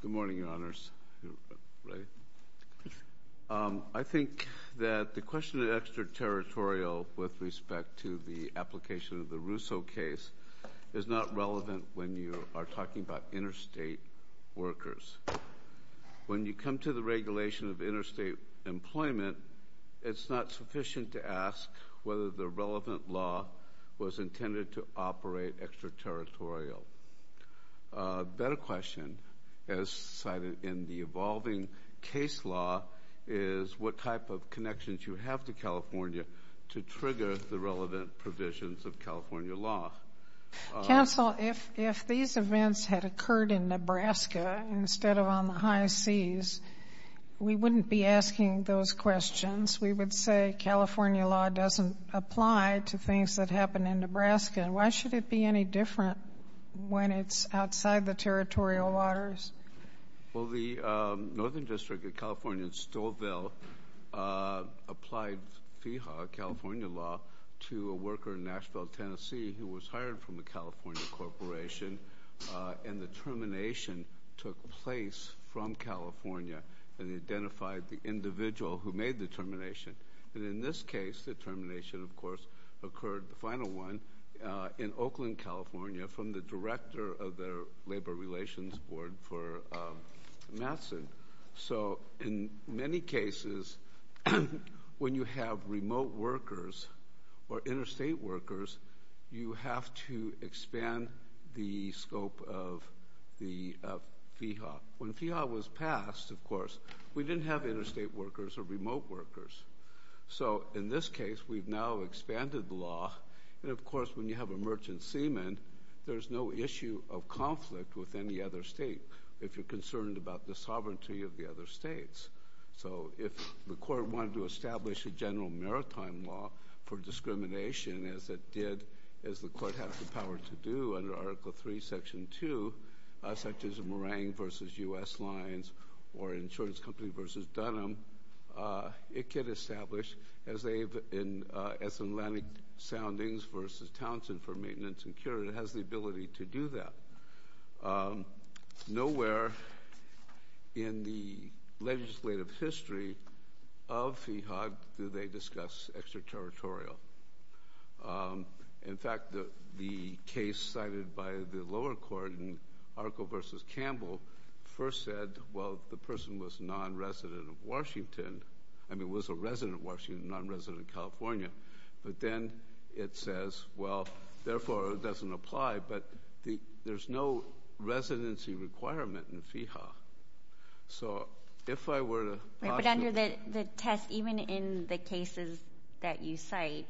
Good morning, Your Honors. I think that the question of extraterritorial with respect to the application of the Rousseau case is not relevant when you are talking about interstate workers. When you come to the regulation of interstate employment, it's not sufficient to ask whether the relevant law was intended to operate extraterritorial. A better question, as cited in the evolving case law, is what type of connections you have to California to trigger the relevant provisions of California law. Counsel, if these events had occurred in Nebraska instead of on the high seas, we wouldn't be asking those questions. We would say California law doesn't apply to things that happen in Nebraska. Why should it be any different when it's outside the territorial waters? Well, the Northern District of California in Stouffville applied FIHA, California law, to a worker in Nashville, Tennessee, who was hired from a California corporation, and the termination took place from California, and they identified the individual who made the termination. And in this case, the termination, of course, occurred, the final one, in Oakland, California, from the director of the Labor Relations Board for Matson. So in many cases, when you have remote workers or interstate workers, you have to expand the scope of the FIHA. When FIHA was passed, of course, we didn't have interstate workers or remote workers. So in this case, we've now expanded the law, and of course, when you have a merchant seaman, there's no issue of conflict with any other state if you're concerned about the sovereignty of the states. So if the court wanted to establish a general maritime law for discrimination, as it did, as the court has the power to do under Article III, Section 2, such as Morang v. U.S. Lines or Insurance Company v. Dunham, it could establish, as Atlantic Soundings v. Townsend for legislative history of FIHA, do they discuss extraterritorial. In fact, the case cited by the lower court in Arco v. Campbell first said, well, the person was non-resident of Washington, I mean, was a resident of Washington, non-resident of California, but then it says, well, therefore, it doesn't apply, but there's no residency requirement in FIHA. So if I were to possibly... Right, but under the test, even in the cases that you cite,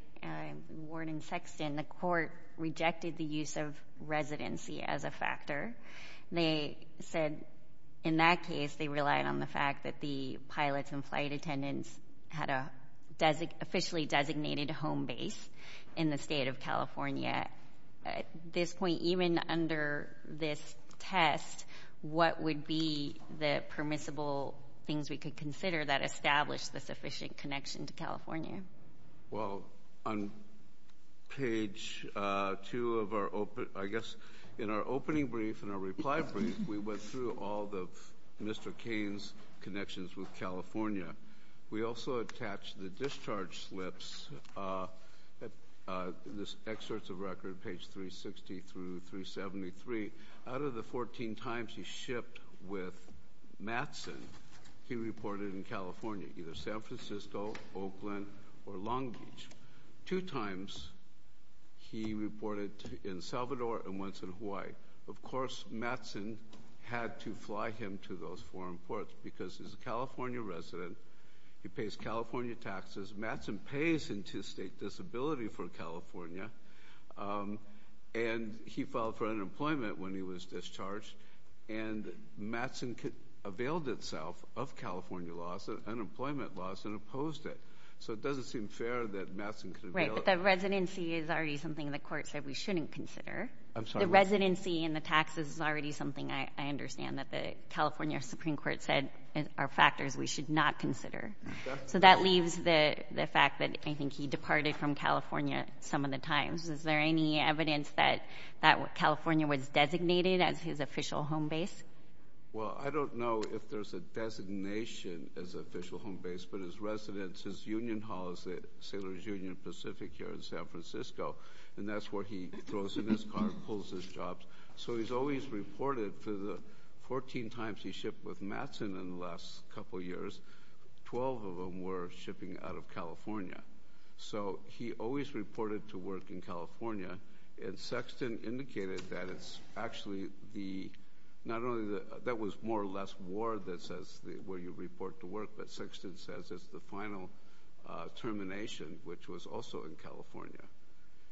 Ward and Sexton, the court rejected the use of residency as a factor. They said, in that case, they relied on the fact that the pilots and flight attendants had an officially designated home base in the state. At this point, even under this test, what would be the permissible things we could consider that establish the sufficient connection to California? Well, on page 2 of our, I guess, in our opening brief and our reply brief, we went through all of Mr. Kane's connections with page 360 through 373. Out of the 14 times he shipped with Mattson, he reported in California, either San Francisco, Oakland, or Long Beach. Two times, he reported in Salvador and once in Hawaii. Of course, Mattson had to fly him to those foreign ports because he's a California resident. He pays California taxes. Mattson pays into state disability for California. And he filed for unemployment when he was discharged. And Mattson availed itself of California loss, unemployment loss, and opposed it. So it doesn't seem fair that Mattson could... Right, but the residency is already something the court said we shouldn't consider. I'm sorry, what? The residency and the taxes is already something I understand that the California Supreme Court said are factors we should not consider. So that leaves the fact that I think he departed from California some of the times. Is there any evidence that California was designated as his official home base? Well, I don't know if there's a designation as official home base, but his residence, his union hall is at Sailor's Union Pacific here in San Francisco. And that's where he throws in his car, pulls his jobs. So he's always reported for the 14 times he shipped with Mattson in the last couple years, 12 of them were shipping out of California. So he always reported to work in California. And Sexton indicated that it's actually the, not only that was more or less ward that says where you report to work, but Sexton says it's the final termination, which was also in California.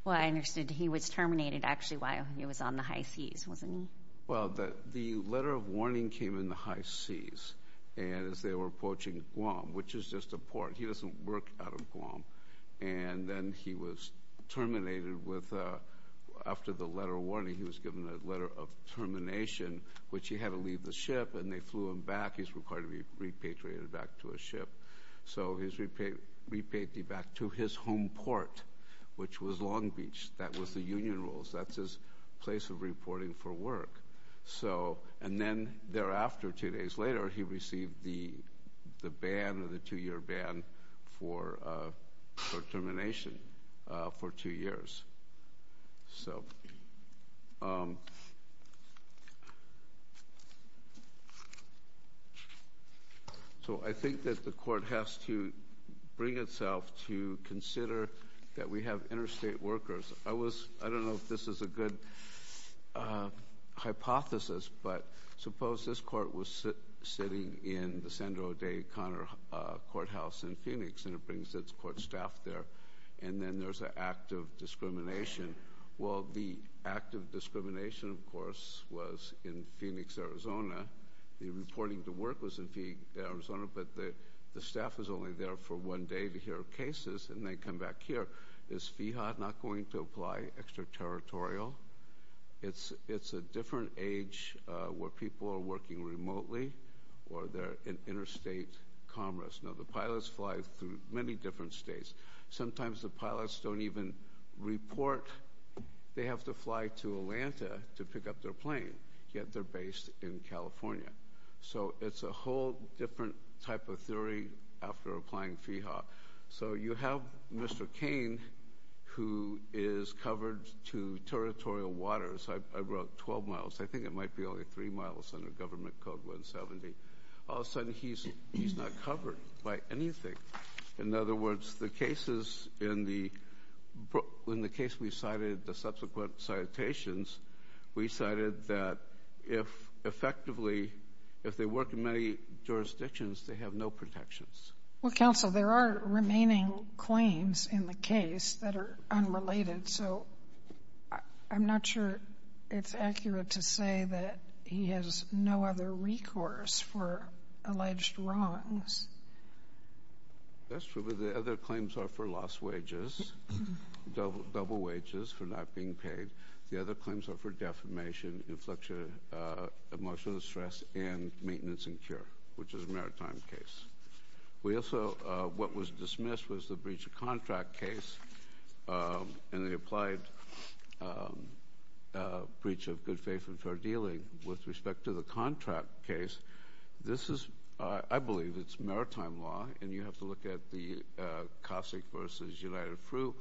Well, I understood he was terminated actually while he was on the high seas, wasn't he? Well, the letter of warning came in the high seas and as they were approaching Guam, which is just a port. He doesn't work out of Guam. And then he was terminated with, after the letter of warning, he was given a letter of termination, which he had to leave the ship and they flew him back. He's required to be repatriated back to a ship. So he's repatriated back to his place of reporting for work. So, and then thereafter, two days later, he received the the ban or the two year ban for termination for two years. So, so I think that the court has to bring itself to consider that we have interstate workers. I was, I don't know if this is a good hypothesis, but suppose this court was sitting in the Sandro Day Connor Courthouse in Phoenix and it brings its court staff there. And then there's an act of discrimination. Well, the act of discrimination, of course, was in Phoenix, Arizona. The reporting to work was in Arizona, but the staff is only there for one day to hear territorial. It's a different age where people are working remotely or they're in interstate commerce. Now the pilots fly through many different states. Sometimes the pilots don't even report they have to fly to Atlanta to pick up their plane, yet they're based in California. So it's a whole different type of theory after applying FIHA. So you have Mr. Kane, who is covered to territorial waters. I wrote 12 miles. I think it might be only three miles under government code 170. All of a sudden he's not covered by anything. In other words, the cases in the case we cited, the subsequent citations, we cited that if effectively, if they work in many jurisdictions, they have no protections. Well, counsel, there are remaining claims in the case that are unrelated. So I'm not sure it's accurate to say that he has no other recourse for alleged wrongs. That's true, but the other claims are for lost wages, double wages for not being paid. The other claims are for defamation, emotional stress, and maintenance and cure, which is a maritime case. We also, what was dismissed was the breach of contract case and the applied breach of good faith and fair dealing. With respect to the contract case, this is, I believe it's maritime law, and you have to look at the Cossack versus United Fruit,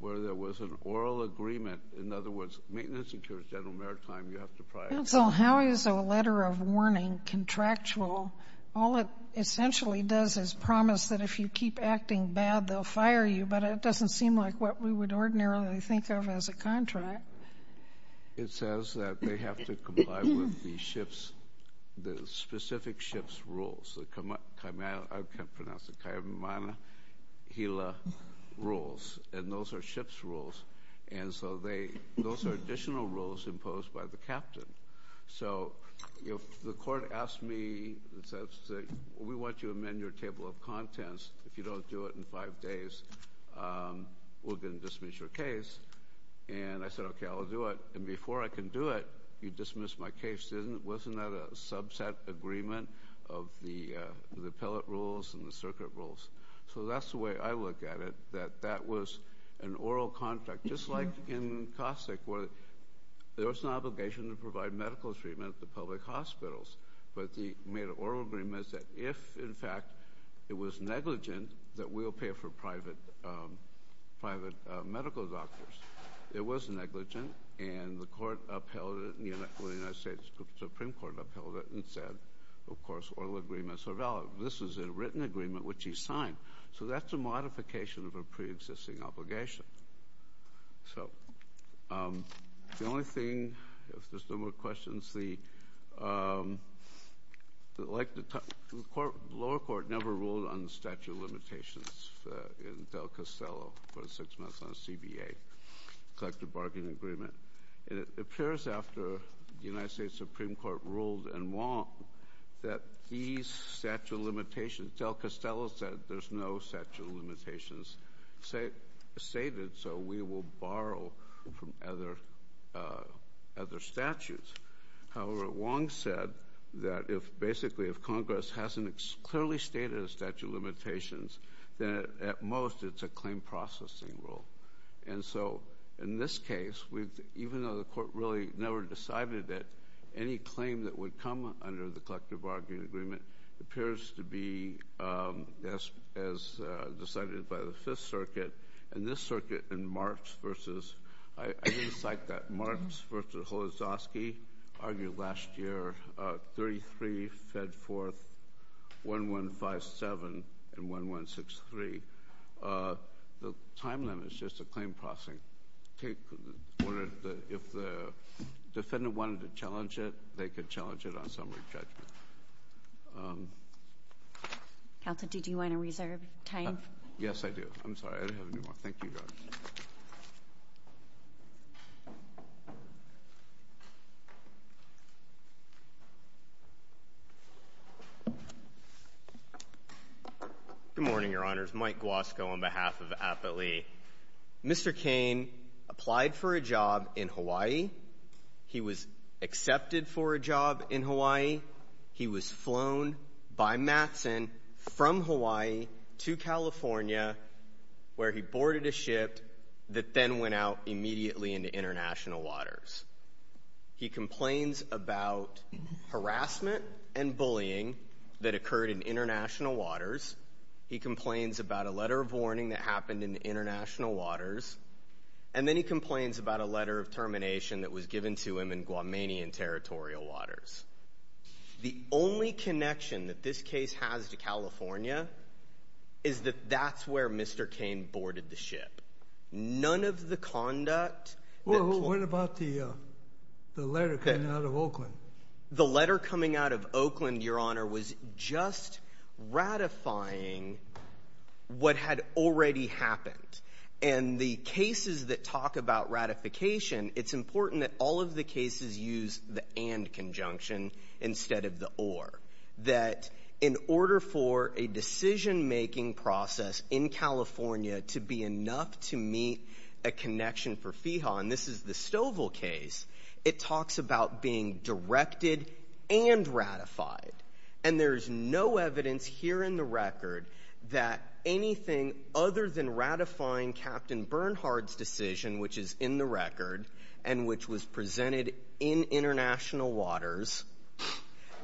where there was an oral agreement. In other words, maintenance and cure is general contractual. All it essentially does is promise that if you keep acting bad, they'll fire you, but it doesn't seem like what we would ordinarily think of as a contract. It says that they have to comply with the ship's, the specific ship's rules. I can't pronounce it, Kaimanahila rules, and those are ship's rules. And so they, those are additional rules imposed by the captain. So if the court asks me, it says, we want you to amend your table of contents. If you don't do it in five days, we're going to dismiss your case. And I said, okay, I'll do it. And before I can do it, you dismiss my case. Wasn't that a subset agreement of the appellate rules and the circuit rules? So that's the way I look at it, that that was an oral contract, just like in Cossack, where there was an obligation to provide medical treatment at the public hospitals. But he made an oral agreement that if, in fact, it was negligent, that we'll pay for private, private medical doctors. It was negligent, and the court upheld it, and the United States Supreme Court upheld it and said, of course, oral agreements are valid. This is a written agreement, which he signed. So that's a modification of a pre-existing obligation. So the only thing, if there's no more questions, the lower court never ruled on the statute of limitations in Del Castello for six months on a CBA, collective bargaining agreement. And it appears after the United States Supreme Court ruled in Wong that these statute of limitations are stated, so we will borrow from other statutes. However, Wong said that if, basically, if Congress hasn't clearly stated the statute of limitations, then at most, it's a claim processing rule. And so in this case, even though the court really never decided it, any claim that would come under the collective bargaining agreement appears to be as decided by the Fifth Circuit. And this circuit in Marx versus—I didn't cite that—Marx versus Holozovsky argued last year, 33 fed forth, 1157 and 1163. The time limit is just a claim processing. Take—if the defendant wanted to challenge it, they could challenge it on summary judgment. Counsel, did you want to reserve time? Yes, I do. I'm sorry. I don't have any more. Thank you, Your Honor. Good morning, Your Honors. Mike Guasco on behalf of APALE. Mr. Kane applied for a job in Hawaii. He was accepted for a job in Hawaii. He was flown by Matson from Hawaii to California, where he boarded a ship that then went out immediately into international waters. He complains about harassment and bullying that occurred in international waters. He complains about a letter of warning that happened in international waters. And then he complains about a letter of termination that was given to him in Guamanian territorial waters. The only connection that this case has to California is that that's where Mr. Kane boarded the ship. None of the conduct— Well, what about the letter coming out of Oakland? The letter coming out of Oakland, Your Honor, was just ratifying what had already happened. And the cases that talk about ratification, it's important that all of the cases use the and conjunction instead of the or. That in order for a decision-making process in California to be enough to meet a connection for FEHA—and this is the Stovall case—it talks about being directed and ratified. And there's no evidence here in the record that anything other than international waters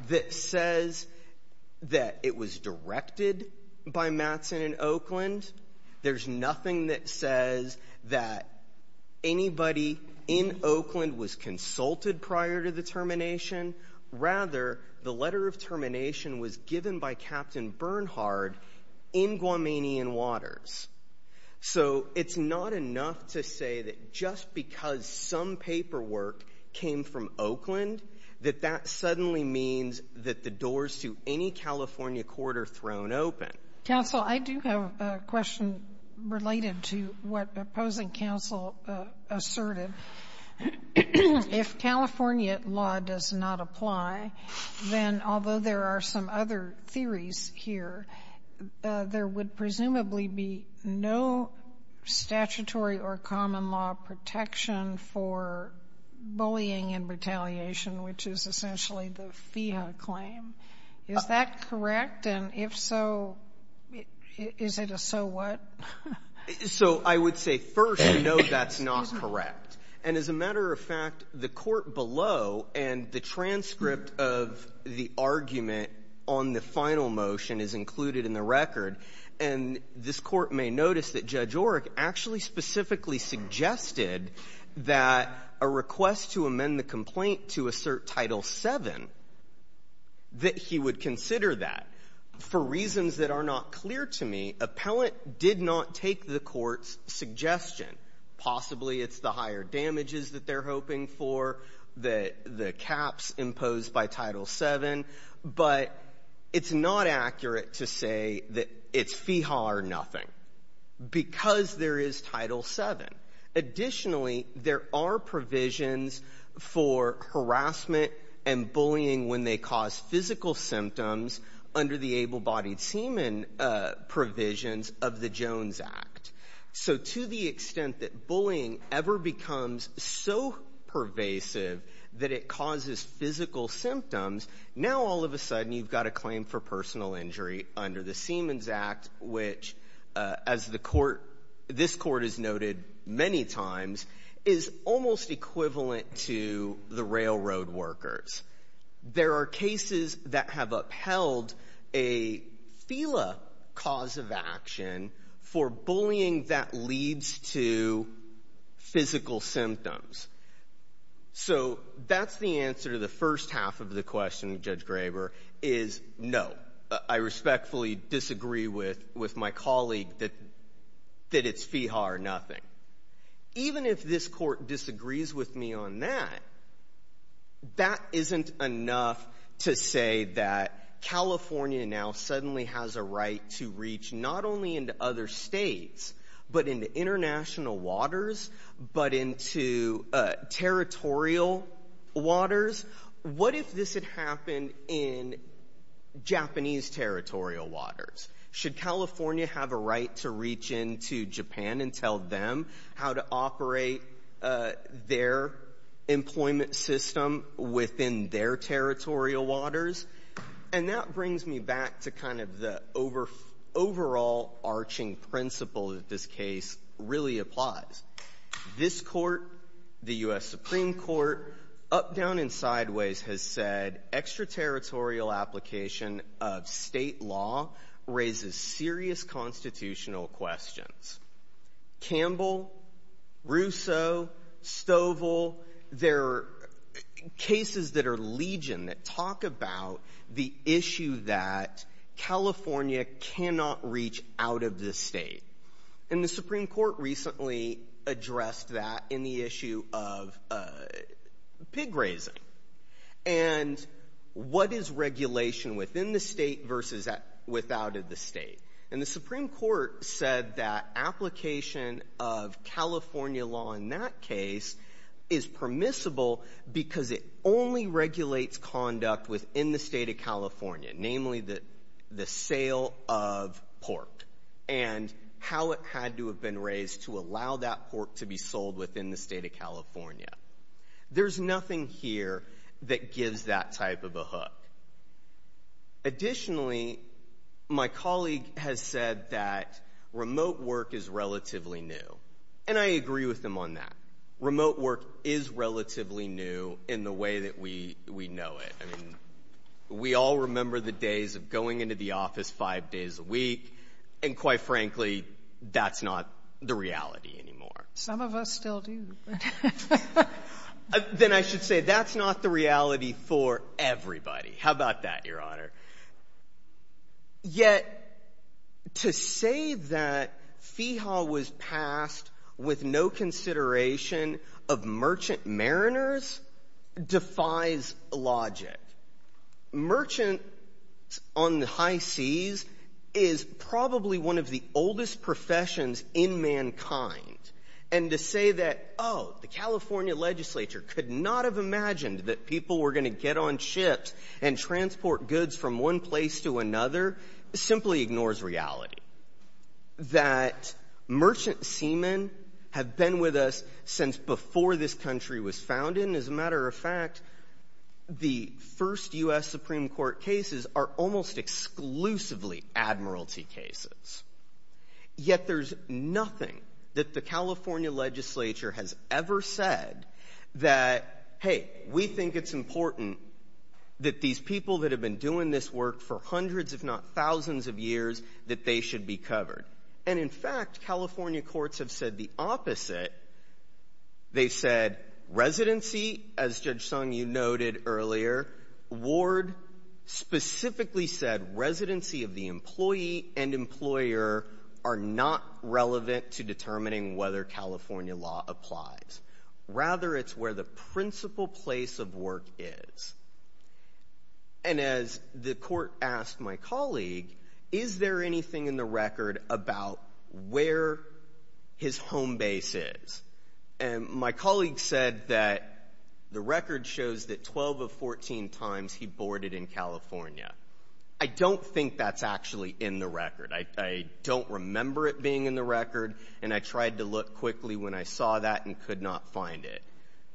that says that it was directed by Mattson in Oakland. There's nothing that says that anybody in Oakland was consulted prior to the termination. Rather, the letter of termination was given by Captain Bernhard in Guamanian waters. So it's not enough to say that because some paperwork came from Oakland that that suddenly means that the doors to any California court are thrown open. Counsel, I do have a question related to what opposing counsel asserted. If California law does not apply, then although there are some other theories here, there would presumably be no statutory or common law protection for bullying and retaliation, which is essentially the FEHA claim. Is that correct? And if so, is it a so what? So I would say first, no, that's not correct. And as a matter of fact, the court below and the transcript of the argument on the final motion is included in the record. And this Court may notice that Judge Orrick actually specifically suggested that a request to amend the complaint to assert Title VII, that he would consider that. For reasons that are not clear to me, Appellant did not take the Court's suggestion. Possibly it's the higher damages that they're hoping for, the caps imposed by Title VII, but it's not accurate to say that it's FEHA or nothing because there is Title VII. Additionally, there are provisions for harassment and bullying when they cause physical symptoms under the able-bodied semen provisions of the Jones Act. So to the extent that bullying ever becomes so pervasive that it causes physical symptoms, now all of a sudden you've got a claim for personal injury under the Semens Act, which, as this Court has noted many times, is almost equivalent to the railroad workers. There are cases that have upheld a FELA cause of action for bullying that leads to physical symptoms. So that's the answer to the first half of the question, Judge Graber, is no. I respectfully disagree with my colleague that it's FEHA or nothing. Even if this Court disagrees with me on that, that isn't enough to say that California now suddenly has a right to reach not only into other states, but into international waters, but into territorial waters. What if this had happened in Japanese territorial waters? Should California have a right to reach into Japan and tell them how to operate their employment system within their territorial waters? And that brings me back to kind of the overall arching principle that this case really applies. This Court, the U.S. Supreme Court, up, down, and sideways has said extraterritorial application of state law raises serious constitutional questions. Campbell, Russo, Stovall, there are cases that are legion that talk about the issue that California cannot reach out of the state. And the Supreme Court recently addressed that in the issue of pig grazing. And what is regulation within the state versus without the state? And the Supreme Court said that application of California law in that case is permissible because it only regulates conduct within the state of California, namely the sale of pork and how it had to have been raised to allow that pork to be sold within the state of California. There's nothing here that gives that type of a hook. Additionally, my colleague has said that remote work is relatively new. And I agree with him on that. Remote work is relatively new in the way that we know it. I mean, we all remember the days of going into the office five days a week, and quite frankly, that's not the reality anymore. Sotomayor Some of us still do. Breyer Then I should say that's not the reality for everybody. How about that, Your Honor? Yet to say that FEHA was passed with no consideration of merchant mariners defies logic. Merchants on the high seas is probably one of the oldest professions in mankind. And to say that, oh, the California legislature could not have imagined that people were going to get on ships and transport goods from one place to another simply ignores reality. That merchant seamen have been with us since before this country was founded. And as a matter of fact, the first U.S. Supreme Court cases are almost exclusively admiralty cases. Yet there's nothing that the California legislature has ever said that, hey, we think it's important that these people that have been doing this work for hundreds, if not thousands of years, that they should be covered. And in fact, California courts have said the opposite. They've said residency, as Judge Sung you noted earlier, Ward specifically said residency of the employee and employer are not relevant to determining whether California law applies. Rather, it's where the principal place of work is. And as the court asked my colleague, is there anything in the record about where his home base is? And my colleague said that the record shows that 12 of 14 times he boarded in California. I don't think that's actually in the record. I don't remember it being in the record. And I tried to look quickly when I saw that and could not find it.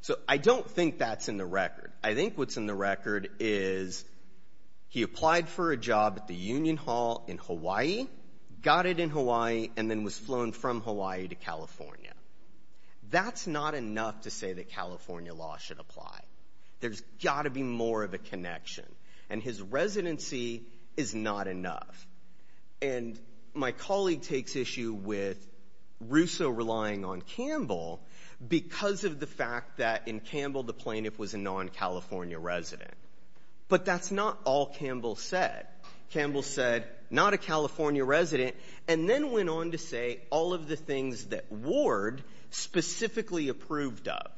So I don't think that's in the record. I think what's in the record is he applied for a job at the Union Hall in Hawaii, got it in Hawaii, and then was flown from Hawaii to California. That's not enough to say that California law should apply. There's got to be more of a connection. And his residency is not enough. And my colleague takes issue with because of the fact that in Campbell, the plaintiff was a non-California resident. But that's not all Campbell said. Campbell said, not a California resident, and then went on to say all of the things that Ward specifically approved of.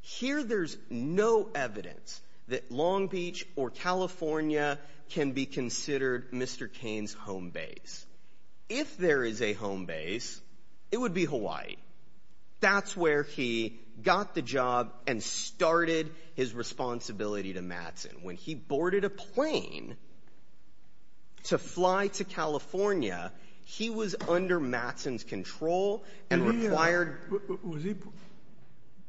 Here, there's no evidence that Long Beach or California can be considered Mr. Kane's home base. If there is a home base, it would be Hawaii. That's where he got the job and started his responsibility to Mattson. When he boarded a plane to fly to California, he was under Mattson's control and required.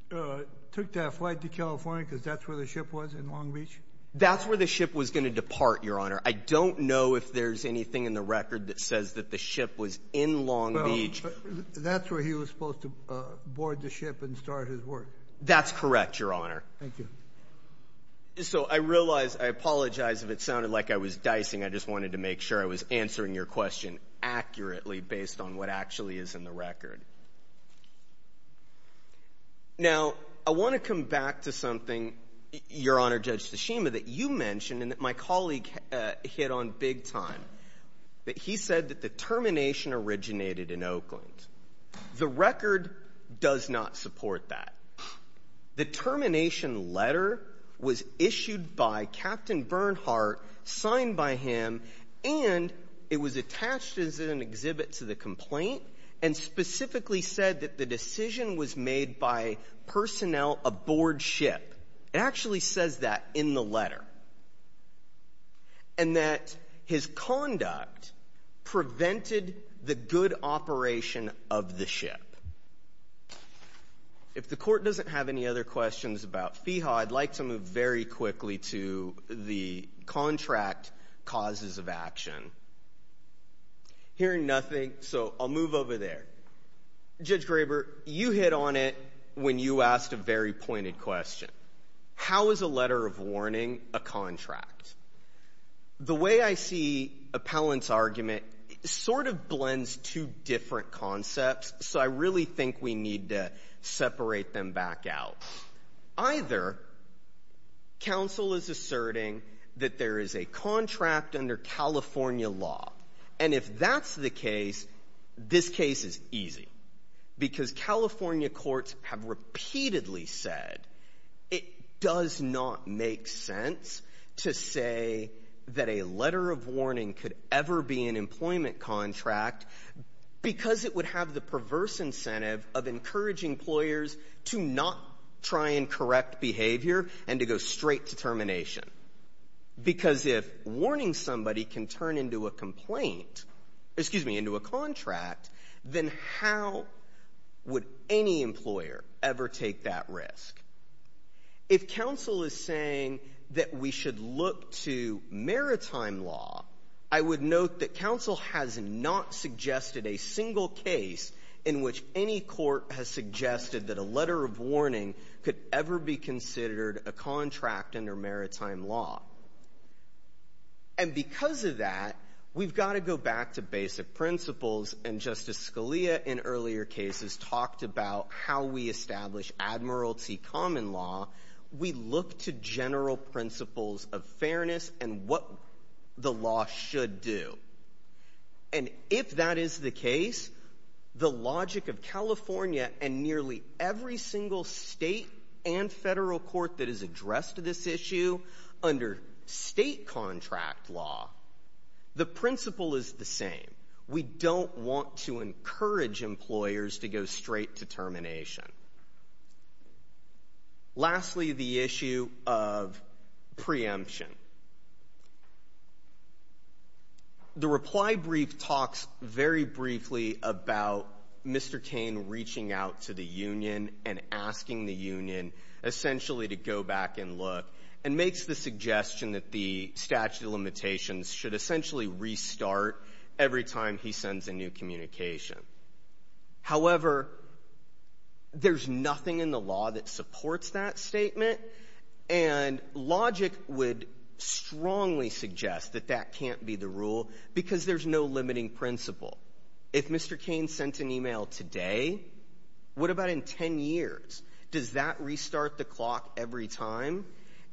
Took that flight to California because that's where the ship was in Long Beach? That's where the ship was going to depart, Your Honor. I don't know if there's anything in the That's where he was supposed to board the ship and start his work. That's correct, Your Honor. Thank you. So I realize I apologize if it sounded like I was dicing. I just wanted to make sure I was answering your question accurately based on what actually is in the record. Now, I want to come back to something, Your Honor, Judge Tashima, that you mentioned and that my The record does not support that. The termination letter was issued by Captain Bernhardt, signed by him, and it was attached as an exhibit to the complaint and specifically said that the decision was made by personnel aboard ship. It actually says that in the letter. And that his conduct prevented the good operation of the ship. If the court doesn't have any other questions about FEHA, I'd like to move very quickly to the contract causes of action. Hearing nothing, so I'll move over there. Judge Graber, you hit on it when you asked a very pointed question. How is a letter of warning a contract? The way I see Appellant's argument sort of blends two different concepts, so I really think we need to separate them back out. Either counsel is asserting that there is a contract under California law, and if that's the case, this case is easy. Because California courts have repeatedly said it does not make sense to say that a letter of warning could ever be an employment contract because it would have the perverse incentive of encouraging employers to not try and correct behavior and to go straight to termination. Because if warning somebody can turn into a complaint, excuse me, into a contract, then how would any employer ever take that risk? If counsel is saying that we should look to maritime law, I would note that counsel has not suggested a single case in which any court has suggested that a letter of warning could ever be considered a contract under maritime law. And because of that, we've got to go back to basic principles, and Justice Scalia in earlier cases talked about how we establish admiralty common law. We look to general principles of fairness and what the law should do. And if that is the case, the logic of California and nearly every single state and federal court that has addressed this issue under state contract law, the principle is the same. We don't want to encourage employers to go straight to termination. Lastly, the issue of preemption. The reply brief talks very briefly about Mr. Kane reaching out to the union and asking the union essentially to go back and look and makes the suggestion that the statute of limitations should restart every time he sends a new communication. However, there's nothing in the law that supports that statement, and logic would strongly suggest that that can't be the rule because there's no limiting principle. If Mr. Kane sent an email today, what about in 10 years? Does that restart the clock every time?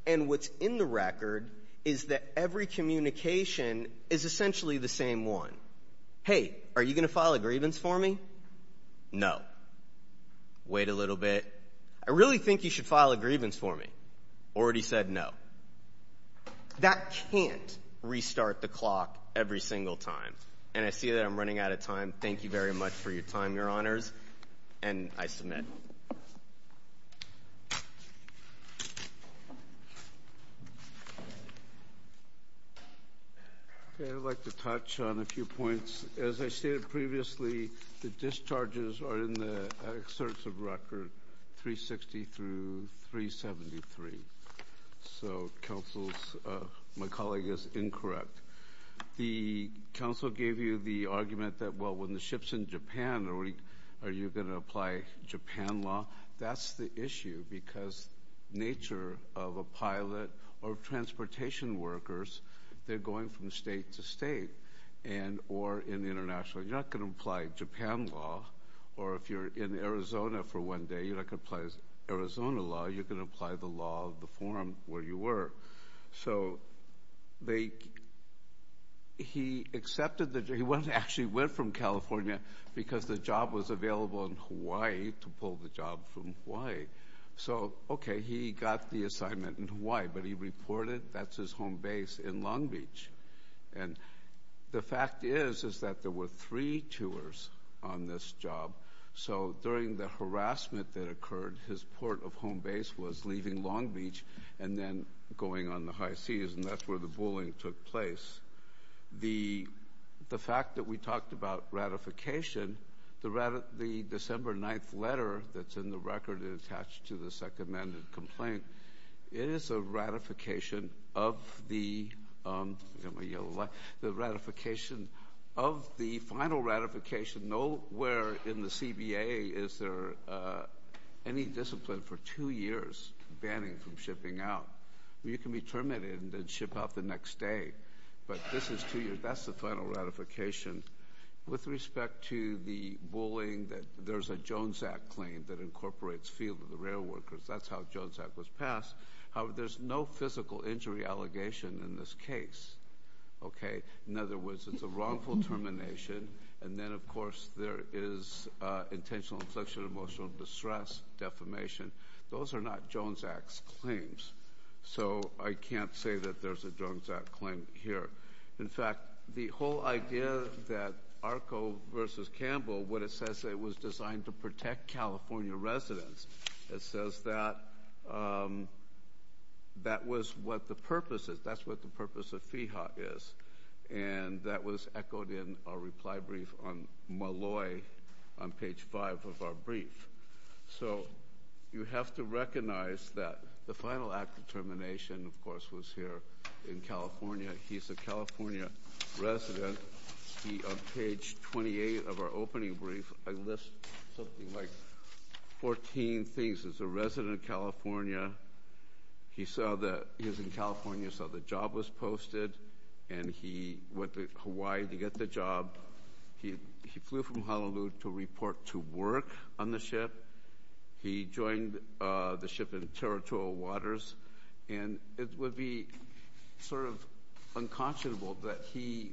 And what's in the record is that every communication is essentially the same one. Hey, are you going to file a grievance for me? No. Wait a little bit. I really think you should file a grievance for me. Already said no. That can't restart the clock every single time. And I see that I'm running out of time. Thank you very much for your time, Your Honors, and I submit. Okay, I'd like to touch on a few points. As I stated previously, the discharges are in the excerpts of record 360 through 373, so my colleague is incorrect. The council gave you the argument that when the ship's in Japan, are you going to apply Japan law? That's the issue because nature of a pilot or transportation workers, they're going from state to state or in international. You're not going to apply Japan law, or if you're in Arizona for one day, you're not going to apply Arizona law. You're going to apply the law of the forum where you were. So they, he accepted the, he actually went from California because the job was available in Hawaii to pull the job from Hawaii. So okay, he got the assignment in Hawaii, but he reported that's his home base in Long Beach. And the fact is, is that there were three tours on this job. So during the on the high seas, and that's where the bullying took place. The fact that we talked about ratification, the December 9th letter that's in the record and attached to the second amended complaint, it is a ratification of the final ratification. Nowhere in the CBA is there any discipline for two years banning from shipping out. You can be terminated and then ship out the next day, but this is two years, that's the final ratification. With respect to the bullying that there's a Jones Act claim that incorporates field of the rail workers. That's how Jones Act was passed. However, there's no physical injury allegation in this case. Okay. In other words, it's a wrongful termination. And then, of course, there is intentional sexual and emotional distress defamation. Those are not Jones Act claims. So I can't say that there's a Jones Act claim here. In fact, the whole idea that ARCO versus Campbell, what it says, it was designed to protect California residents. It says that that was what the purpose is. That's what the purpose is. And that was echoed in our reply brief on Malloy on page five of our brief. So you have to recognize that the final act of termination, of course, was here in California. He's a California resident. He, on page 28 of our opening brief, I list something like 14 things as a resident of California. He's in California, so the job was posted. And he went to Hawaii to get the job. He flew from Honolulu to report to work on the ship. He joined the ship in territorial waters. And it would be sort of unconscionable that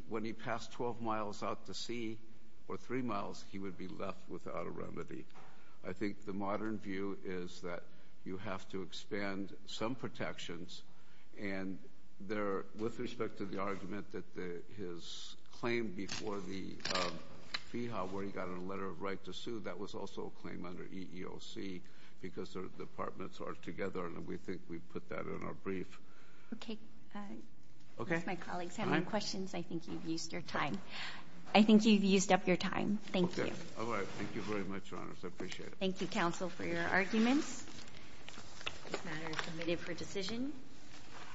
when he passed 12 miles out to sea, or three miles, he would be left without a remedy. I think the modern view is that you have to expand some protections. And there, with respect to the argument that his claim before the FEHA, where he got a letter of right to sue, that was also a claim under EEOC, because their departments are together. And we think we put that in our brief. Okay. If my colleagues have any questions, I think you've used your time. I think you've used up your time. Thank you. All right. Thank you very much, Your Honors. I appreciate it. Thank you, counsel, for your arguments. This matter is submitted for decision.